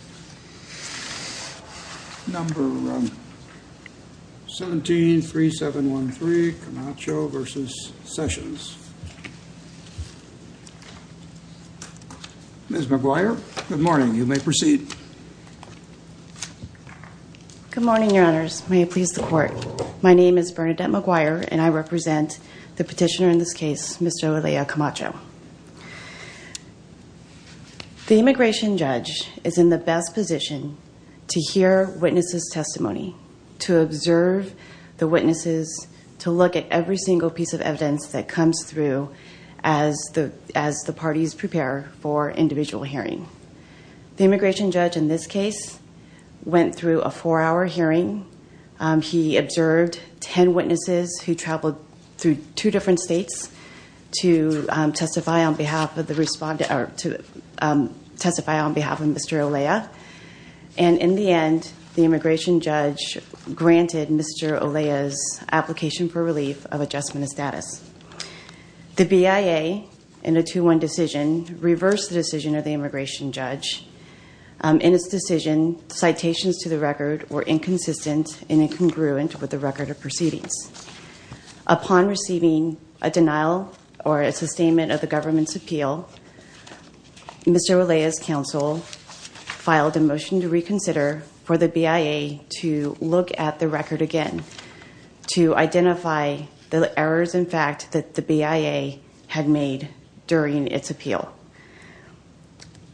Ms. McGuire, good morning. You may proceed. Good morning, Your Honors. May it please the Court. My name is Bernadette McGuire, and I represent the petitioner in this case, Mr. to hear witnesses' testimony, to observe the witnesses, to look at every single piece of evidence that comes through as the parties prepare for individual hearing. The immigration judge in this case went through a four-hour hearing. He observed 10 witnesses who traveled through two different states to testify on behalf of Mr. Olea, and in the end, the immigration judge granted Mr. Olea's application for relief of adjustment of status. The BIA, in a 2-1 decision, reversed the decision of the immigration judge. In its decision, citations to the record were Upon receiving a denial or a sustainment of the government's appeal, Mr. Olea's counsel filed a motion to reconsider for the BIA to look at the record again to identify the errors in fact that the BIA had made during its appeal.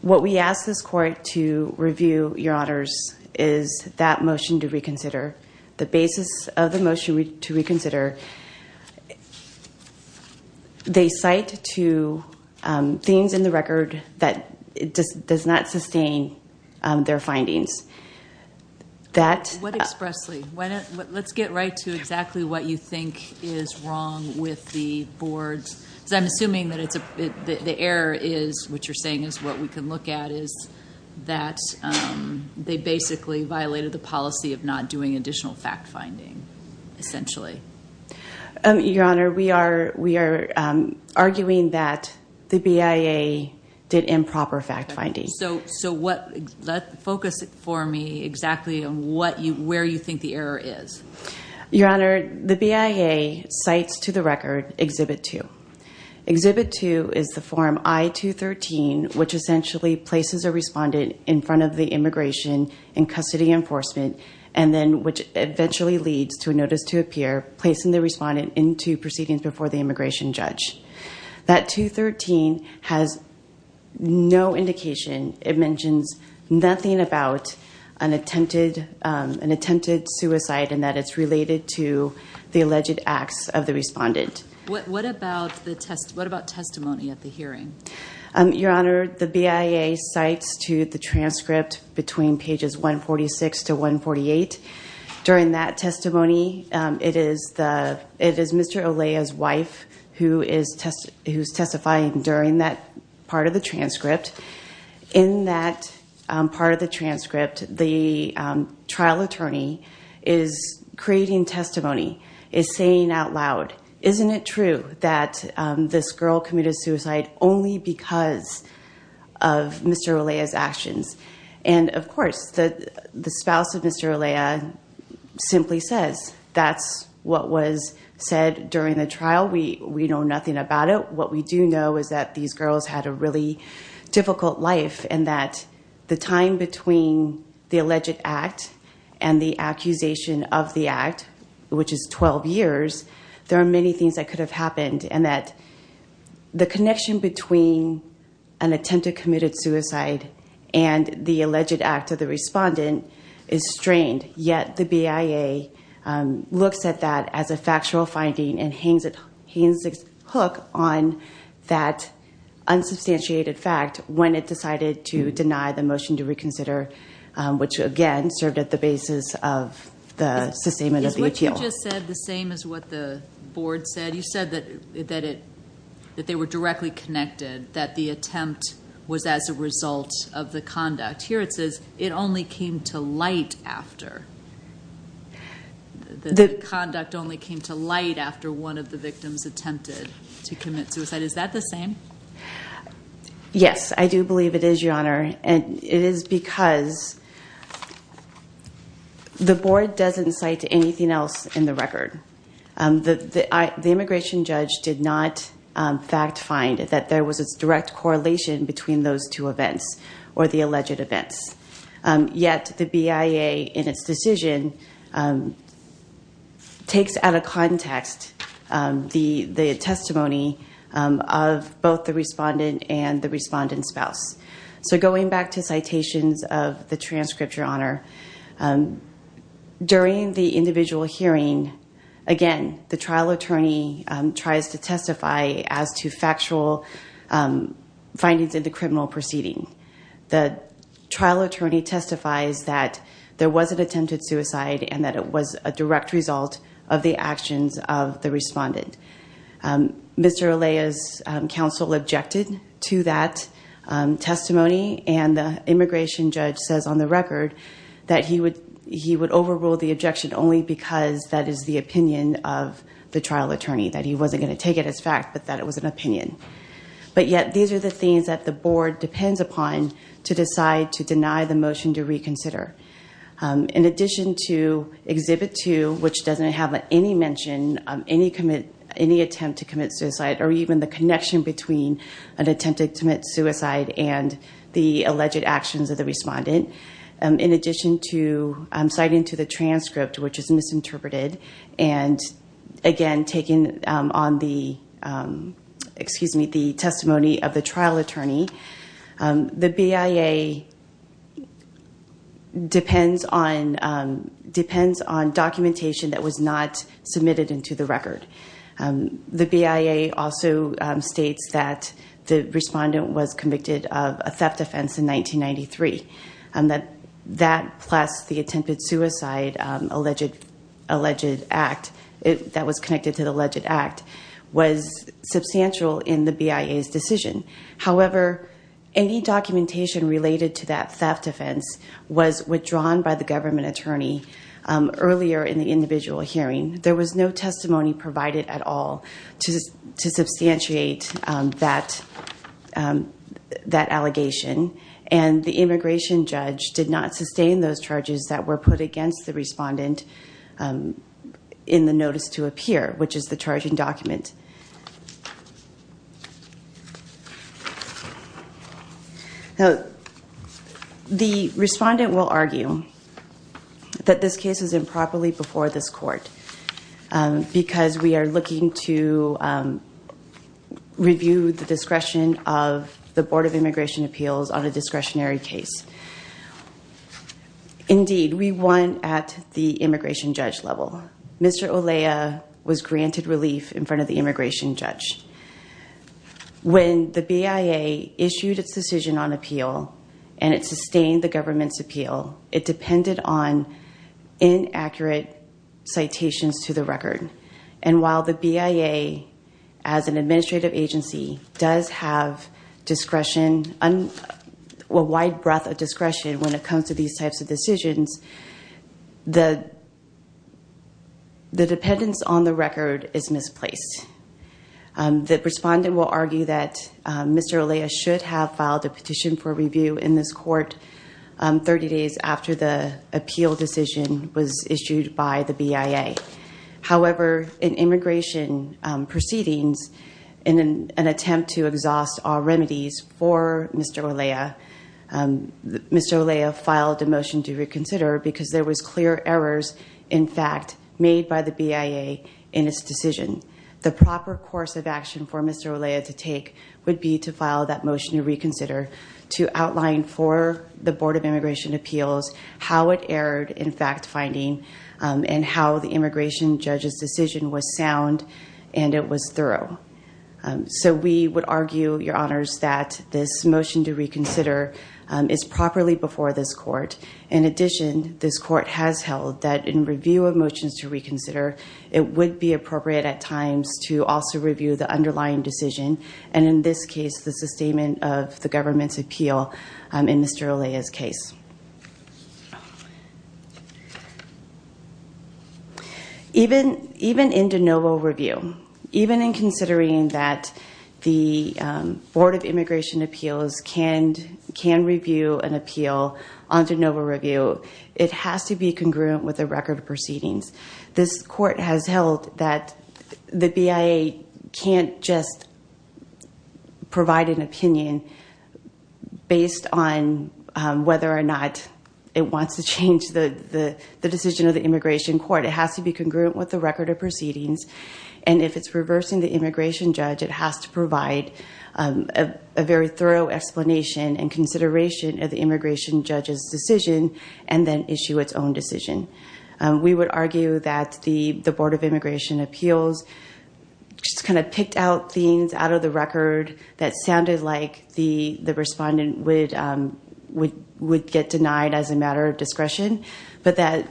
What we ask this Court to review, Your Honors, is that motion to reconsider. The basis of the motion to reconsider, they cite to things in the record that does not sustain their findings. What expressly? Let's get right to exactly what you think is wrong with the board. I'm assuming that the error is what you're saying is what we can look at is that they basically violated the policy of not doing additional fact-finding, essentially. Your Honor, we are arguing that the BIA did improper fact-finding. So, focus for me exactly on where you think the error is. Your Honor, the BIA cites to the record Exhibit 2. Exhibit 2 is the form I-213, which essentially places a respondent in front of the immigration in custody enforcement and then which eventually leads to a notice to appear, placing the respondent into proceedings before the immigration judge. That 213 has no indication. It mentions nothing about an attempted suicide and that it's related to the alleged acts of the respondent. What about testimony at the hearing? Your Honor, the BIA cites to the transcript between pages 146 to 148. During that testimony, it is Mr. Olaya's wife who is testifying during that part of the transcript. In that part of the transcript, the trial attorney is creating testimony, is saying out loud, isn't it true that this girl committed suicide only because of Mr. Olaya's actions? Of course, the spouse of Mr. Olaya simply says that's what was said during the trial. We know nothing about it. What we do know is that these girls had a really difficult life and that the time between the alleged act and the accusation of the act, which is 12 years, there are many things that could have happened and that the connection between an attempted committed suicide and the alleged act of the respondent is strained, yet the BIA looks at that as a factual finding and hangs its hook on that unsubstantiated fact when it decided to deny the motion to reconsider, which again served at the basis of the sustainment of the appeal. Is what you just said the same as what the board said? You said that they were directly connected, that the attempt was as a result of the conduct. Here it says it only came to light after. The conduct only came to light after one of the victims attempted to commit suicide. Is that the honor? It is because the board doesn't cite anything else in the record. The immigration judge did not fact find that there was a direct correlation between those two events or the alleged events, yet the BIA in its decision takes out of context the testimony of both the respondent and the respondent's spouse. So going back to citations of the transcript, your honor, during the individual hearing, again, the trial attorney tries to testify as to factual findings in the criminal proceeding. The trial attorney testifies that there was an attempted suicide and that it was a direct result of the actions of the respondent. Mr. Alea's counsel objected to that testimony and the immigration judge says on the record that he would overrule the objection only because that is the opinion of the trial attorney, that he wasn't going to take it as fact, but that it was an opinion. But yet, these are the things that the board depends upon to decide to deny the motion to reconsider. In addition to any mention, any attempt to commit suicide, or even the connection between an attempted commit suicide and the alleged actions of the respondent, in addition to citing to the transcript, which is misinterpreted, and again, taking on the testimony of the trial attorney, the BIA depends on documentation that was not submitted into the record. The BIA also states that the respondent was convicted of a theft offense in 1993. That plus the attempted suicide that was connected to the alleged act was substantial in the BIA's decision. However, any documentation related to that theft offense was withdrawn by the government attorney earlier in the individual hearing. There was no testimony provided at all to substantiate that allegation and the immigration judge did not sustain those charges that were put against the respondent in the notice to appear, which is the charging document. Now, the respondent will argue that this case is improperly before this court because we are looking to review the discretion of the Board of Immigration Appeals on a discretionary case. Indeed, we won at the immigration judge level. Mr. Olea was granted relief in front of the immigration judge. When the BIA issued its decision on appeal and it sustained the government's appeal, it depended on inaccurate citations to the record. And while the BIA as an administrative agency does have discretion, a wide breadth of discretion when it comes to these types of decisions, the dependence on the record is misplaced. The respondent will argue that Mr. Olea should have filed a petition for review in this court 30 days after the appeal decision was issued by the BIA. However, in immigration proceedings, in an attempt to exhaust all remedies for Mr. Olea, Mr. Olea filed a motion to reconsider because there was clear errors, in fact, made by the BIA in its decision. The proper course of action for Mr. Olea to take would be to file that motion to reconsider to outline for the Board of Immigration Appeals how it erred in fact finding and how the immigration judge's decision was sound and it was thorough. So we would argue, Your Honors, that this motion to reconsider is properly before this court. In addition, this court has held that in review of motions to reconsider, it would be appropriate at times to also review the underlying decision, and in this case, the sustainment of the government's appeal in Mr. Olea's case. Even in de novo review, even in considering that the Board of Immigration Appeals can review an appeal on de novo review, it has to be congruent with the record of proceedings. This court has held that the BIA can't just provide an opinion based on whether or not it wants to change the decision of the immigration court. It has to be congruent with the record of proceedings, and if it's reversing the immigration judge, it has to provide a very thorough explanation and consideration of the immigration judge's decision and then issue its own decision. We would argue that the Board of Immigration Appeals just kind of picked out things out of the record that sounded like the respondent would get denied as a matter of discretion, but that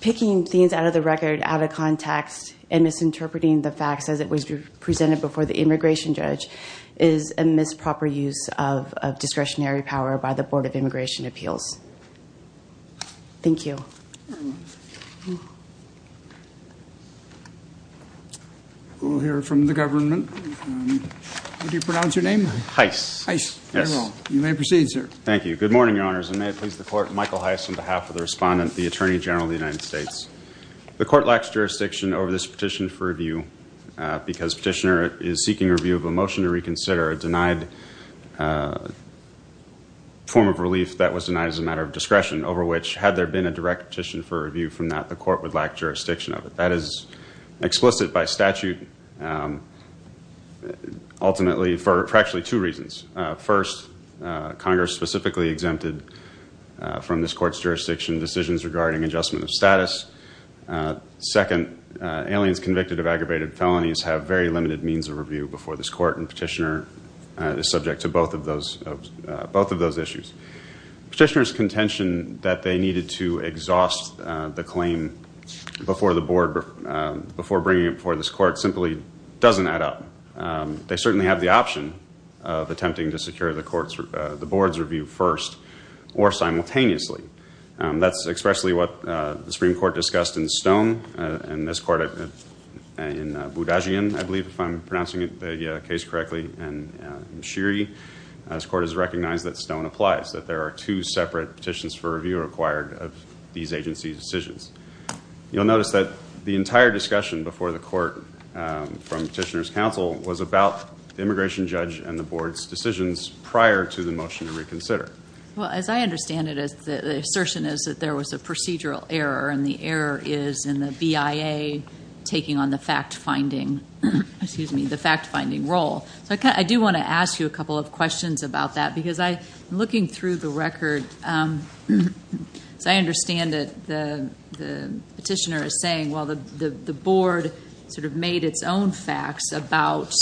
picking things out of the record out of context and misinterpreting the facts as it was presented before the immigration judge is a misproper use of discretionary power by the Board of Immigration Appeals. Thank you. We'll hear from the government. What do you pronounce your name? Heiss. Heiss. Yes. You may proceed, sir. Thank you. Good morning, Your Honors, and may it please the court, Michael Heiss, on behalf of the respondent, the Attorney General of the United States. The court lacks jurisdiction over this petition for review because petitioner is seeking review of a motion to reconsider a denied form of relief that was denied as a matter of discretion over which, had there been a direct petition for review from that, the court would lack jurisdiction of it. That is explicit by statute ultimately for actually two reasons. First, Congress specifically exempted from this court's jurisdiction decisions regarding adjustment of status. Second, aliens convicted of aggravated felonies have very limited means of review before this court, and petitioner is subject to both of those issues. Petitioner's contention that they needed to exhaust the claim before bringing it before this court simply doesn't add up. They certainly have the option of attempting to secure the board's review first or simultaneously. That's expressly what the Supreme Court discussed in Stone and this court in Budajian, I believe, if I'm pronouncing the case correctly, and in Shirey. This court has recognized that Stone applies, that there are two separate petitions for review required of these agency's decisions. You'll notice that the entire discussion before the court from petitioner's counsel was about immigration judge and the board's decisions prior to the motion to reconsider. Well, as I understand it, the assertion is that there was a procedural error, and the error is in the BIA taking on the fact-finding role. I do want to ask you a couple of questions about that because I'm looking through the record. As I understand it, the petitioner is saying, the board made its own facts about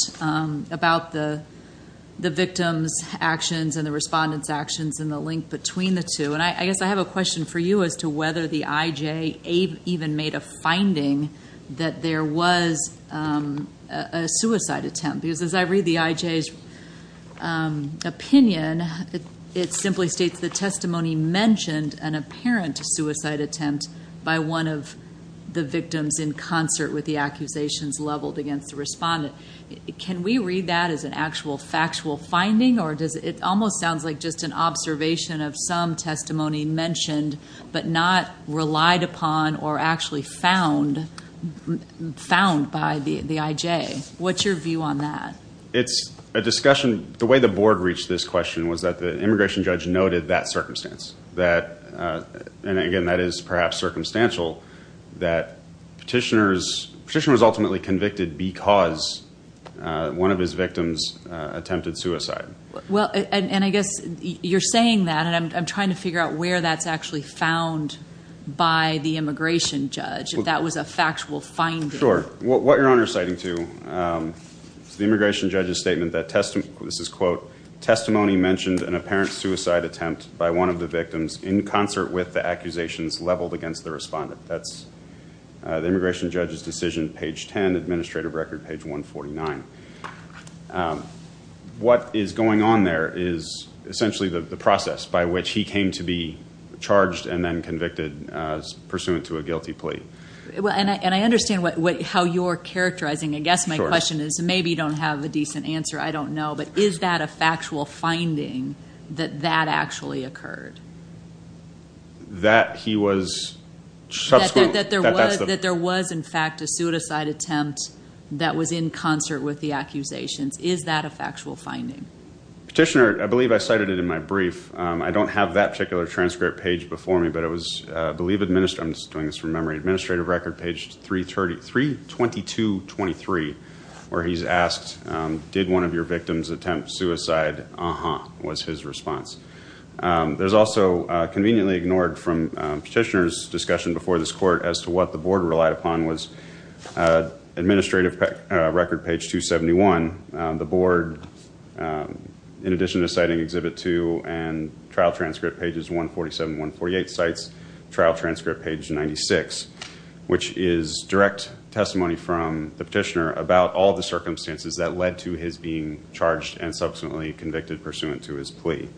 the victim's actions and the respondent's actions and the link between the two. I guess I have a question for you as to whether the IJ even made a finding that there was a suicide attempt because as I read the IJ's opinion, it simply states, the testimony mentioned an apparent suicide attempt by one of the victims in concert with the accusations leveled against the respondent. Can we read that as an actual factual finding, or does it almost sound like just an observation of some testimony mentioned but not relied upon or actually found by the IJ? What's your view on that? It's a discussion. The way the board reached this question was that the immigration judge noted that circumstance. Again, that is perhaps circumstantial that the petitioner was ultimately convicted because one of his victims attempted suicide. I guess you're saying that, and I'm trying to figure out where that's actually found by the immigration judge, if that was a factual finding. Sure. What you're under citing, too, is the immigration judge's statement that testimony mentioned an apparent suicide attempt by one of the victims in concert with the accusations leveled against the respondent. That's the immigration judge's decision, page 10, administrative record page 149. What is going on there is essentially the process by which he came to be charged and then convicted pursuant to a guilty plea. And I understand how you're characterizing. I guess my question is maybe you don't have a decent answer. I don't know. But is that a factual finding that that actually occurred? That he was... That there was, in fact, a suicide attempt that was in concert with the accusations. Is that a factual finding? Petitioner, I believe I cited it in my brief. I don't have that particular transcript page before me, but it was, I believe... I'm just doing this from memory. Administrative record page 32223, where he's asked, did one of your victims attempt suicide? Uh-huh, was his response. There's also, conveniently ignored from petitioner's discussion before this court as to what the board relied upon, was administrative record page 271. The board, in addition to citing and trial transcript pages 147 and 148, cites trial transcript page 96, which is direct testimony from the petitioner about all the circumstances that led to his being charged and subsequently convicted pursuant to his plea.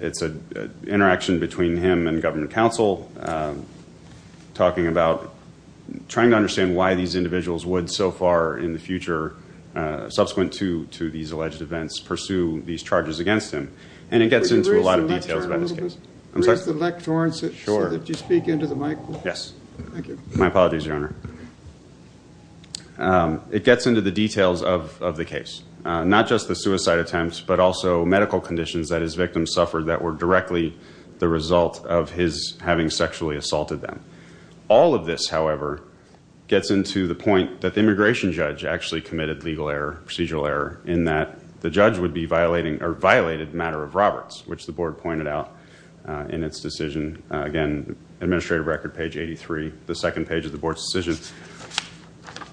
It's an interaction between him and government counsel talking about trying to understand why these individuals would so far in the future, subsequent to these alleged events, pursue these charges against him. And it gets into a lot of details about this case. Could you raise the lectern a little bit? Sure. So that you speak into the microphone. Yes. Thank you. My apologies, Your Honor. It gets into the details of the case, not just the suicide attempts, but also medical conditions that his victims suffered that were directly the result of his having sexually assaulted them. All of this, however, gets into the point that immigration judge actually committed legal error, procedural error, in that the judge would be violating or violated matter of Roberts, which the board pointed out in its decision. Again, administrative record page 83, the second page of the board's decision.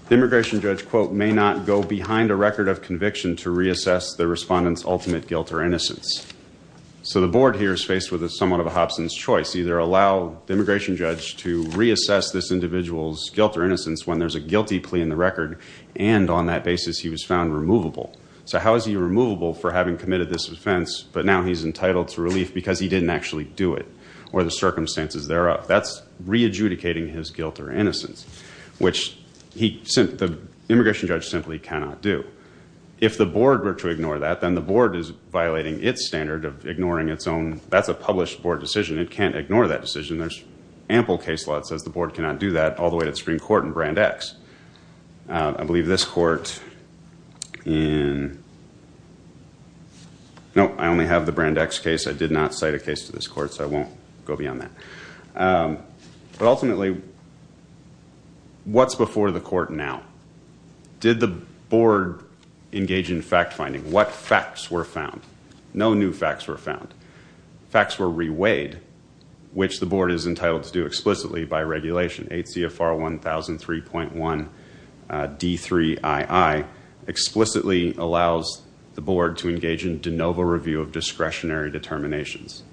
The immigration judge, quote, may not go behind a record of conviction to reassess the respondent's ultimate guilt or innocence. So the board here is faced with somewhat of a Hobson's choice. Either allow the immigration judge to reassess this individual's guilt or And on that basis, he was found removable. So how is he removable for having committed this offense, but now he's entitled to relief because he didn't actually do it, or the circumstances thereof? That's re-adjudicating his guilt or innocence, which the immigration judge simply cannot do. If the board were to ignore that, then the board is violating its standard of ignoring its own. That's a published board decision. It can't ignore that decision. There's ample case law that says the board cannot do that, all the way to the Supreme I believe this court in No, I only have the Brand X case. I did not cite a case to this court, so I won't go beyond that. But ultimately, what's before the court now? Did the board engage in fact finding? What facts were found? No new facts were found. Facts were reweighed, which the board is entitled to do explicitly by regulation. ACFR 1003.1 D3II explicitly allows the board to engage in de novo review of discretionary determinations.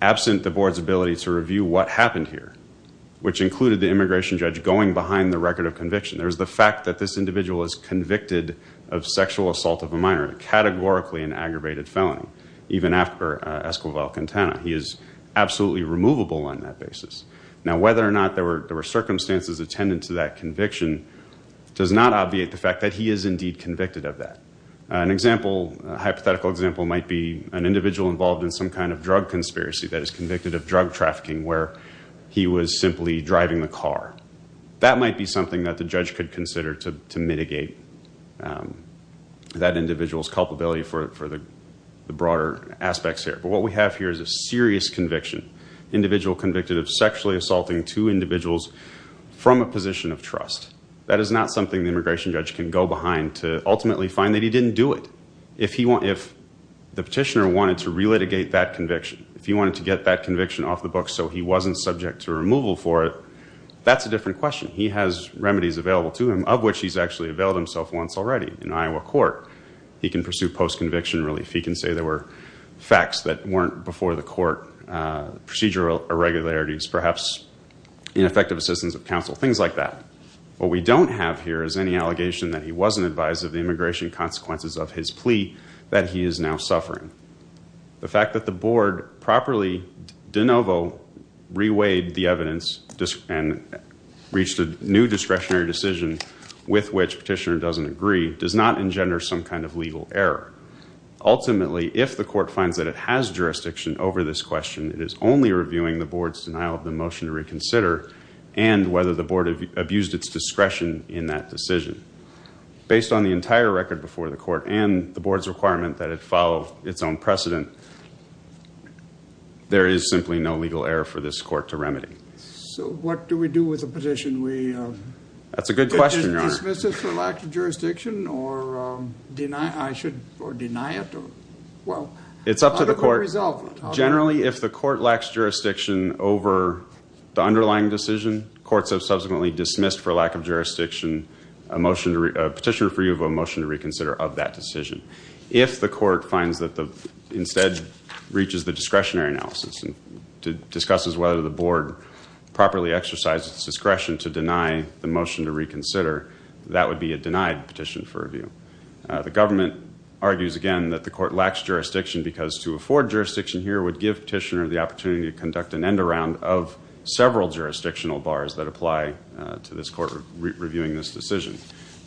Absent the board's ability to review what happened here, which included the immigration judge going behind the record of conviction. There's the fact that this individual is convicted of sexual assault of a minor, categorically an aggravated felony, even after Esquivel-Quintana. He is absolutely removable on that basis. Now, whether or not there were circumstances attendant to that conviction does not obviate the fact that he is indeed convicted of that. An example, a hypothetical example, might be an individual involved in some kind of drug conspiracy that is convicted of drug trafficking where he was simply driving the car. That might be something that the judge could consider to mitigate that individual's culpability for the broader aspects here. What we have here is a serious conviction, individual convicted of sexually assaulting two individuals from a position of trust. That is not something the immigration judge can go behind to ultimately find that he didn't do it. If the petitioner wanted to relitigate that conviction, if he wanted to get that conviction off the books so he wasn't subject to removal for it, that's a different question. He has remedies available to him, of which he's actually availed himself once already in Iowa court. He can pursue post-conviction relief. He can say there were facts that weren't before the court, procedural irregularities, perhaps ineffective assistance of counsel, things like that. What we don't have here is any allegation that he wasn't advised of the immigration consequences of his plea that he is now suffering. The fact that the board properly de novo reweighed the evidence and reached a new discretionary decision with which petitioner doesn't agree does not engender some kind of legal error. Ultimately, if the court finds that it has jurisdiction over this question, it is only reviewing the board's denial of the motion to reconsider and whether the board abused its discretion in that decision. Based on the entire record before the court and the board's requirement that it follow its own precedent, there is simply no legal error for this court to remedy. So what do we do with the petition? That's a good question, Your Honor. Dismiss it for lack of jurisdiction or deny it? It's up to the court. Generally, if the court lacks jurisdiction over the underlying decision, courts have subsequently dismissed for lack of jurisdiction a petitioner for review of a motion to reconsider of that decision. If the court finds that instead reaches the discretionary analysis and discusses whether the board properly exercised its discretion to deny the motion to reconsider, that would be a denied petition for review. The government argues again that the court lacks jurisdiction because to afford jurisdiction here would give petitioner the opportunity to conduct an end around of several jurisdictional bars that apply to this court reviewing this decision.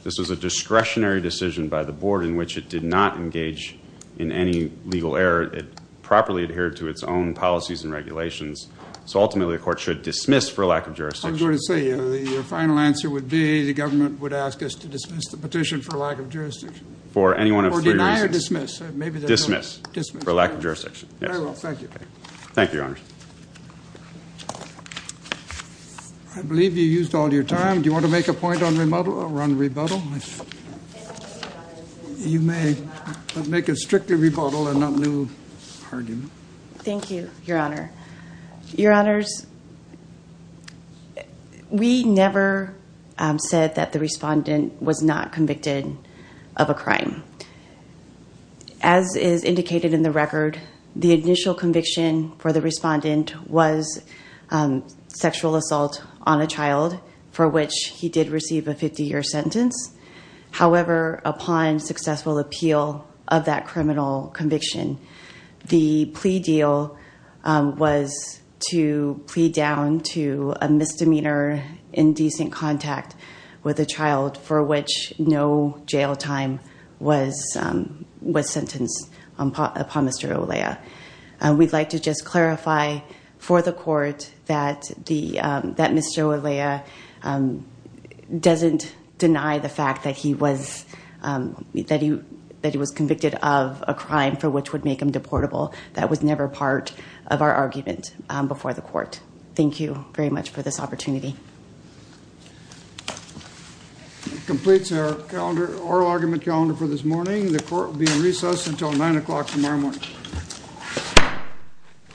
This is a discretionary decision by the board in which it did not engage in any legal error. It properly adhered to its own policies and regulations. So ultimately, the court should dismiss for lack of jurisdiction. I was going to say, your final answer would be the government would ask us to dismiss the petition for lack of jurisdiction. For any one of three reasons. Deny or dismiss? Dismiss for lack of jurisdiction. Very well. Thank you. Thank you, Your Honor. I believe you used all your time. Do you want to make a point on rebuttal? You may make a strictly rebuttal and not new argument. Thank you, Your Honor. Your Honors, we never said that the respondent was not convicted of a crime. As is indicated in the record, the initial conviction for the respondent was sexual assault on a child for which he did receive a 50-year sentence. However, upon successful appeal of that criminal conviction, the plea deal was to plead down to a misdemeanor in decent contact with a child for which no jail time was We'd like to just clarify for the court that Mr. Olea doesn't deny the fact that he was convicted of a crime for which would make him deportable. That was never part of our argument before the court. Thank you very much for this opportunity. It completes our oral argument calendar for this morning. The court will be in recess until 9 o'clock tomorrow morning. Thank you.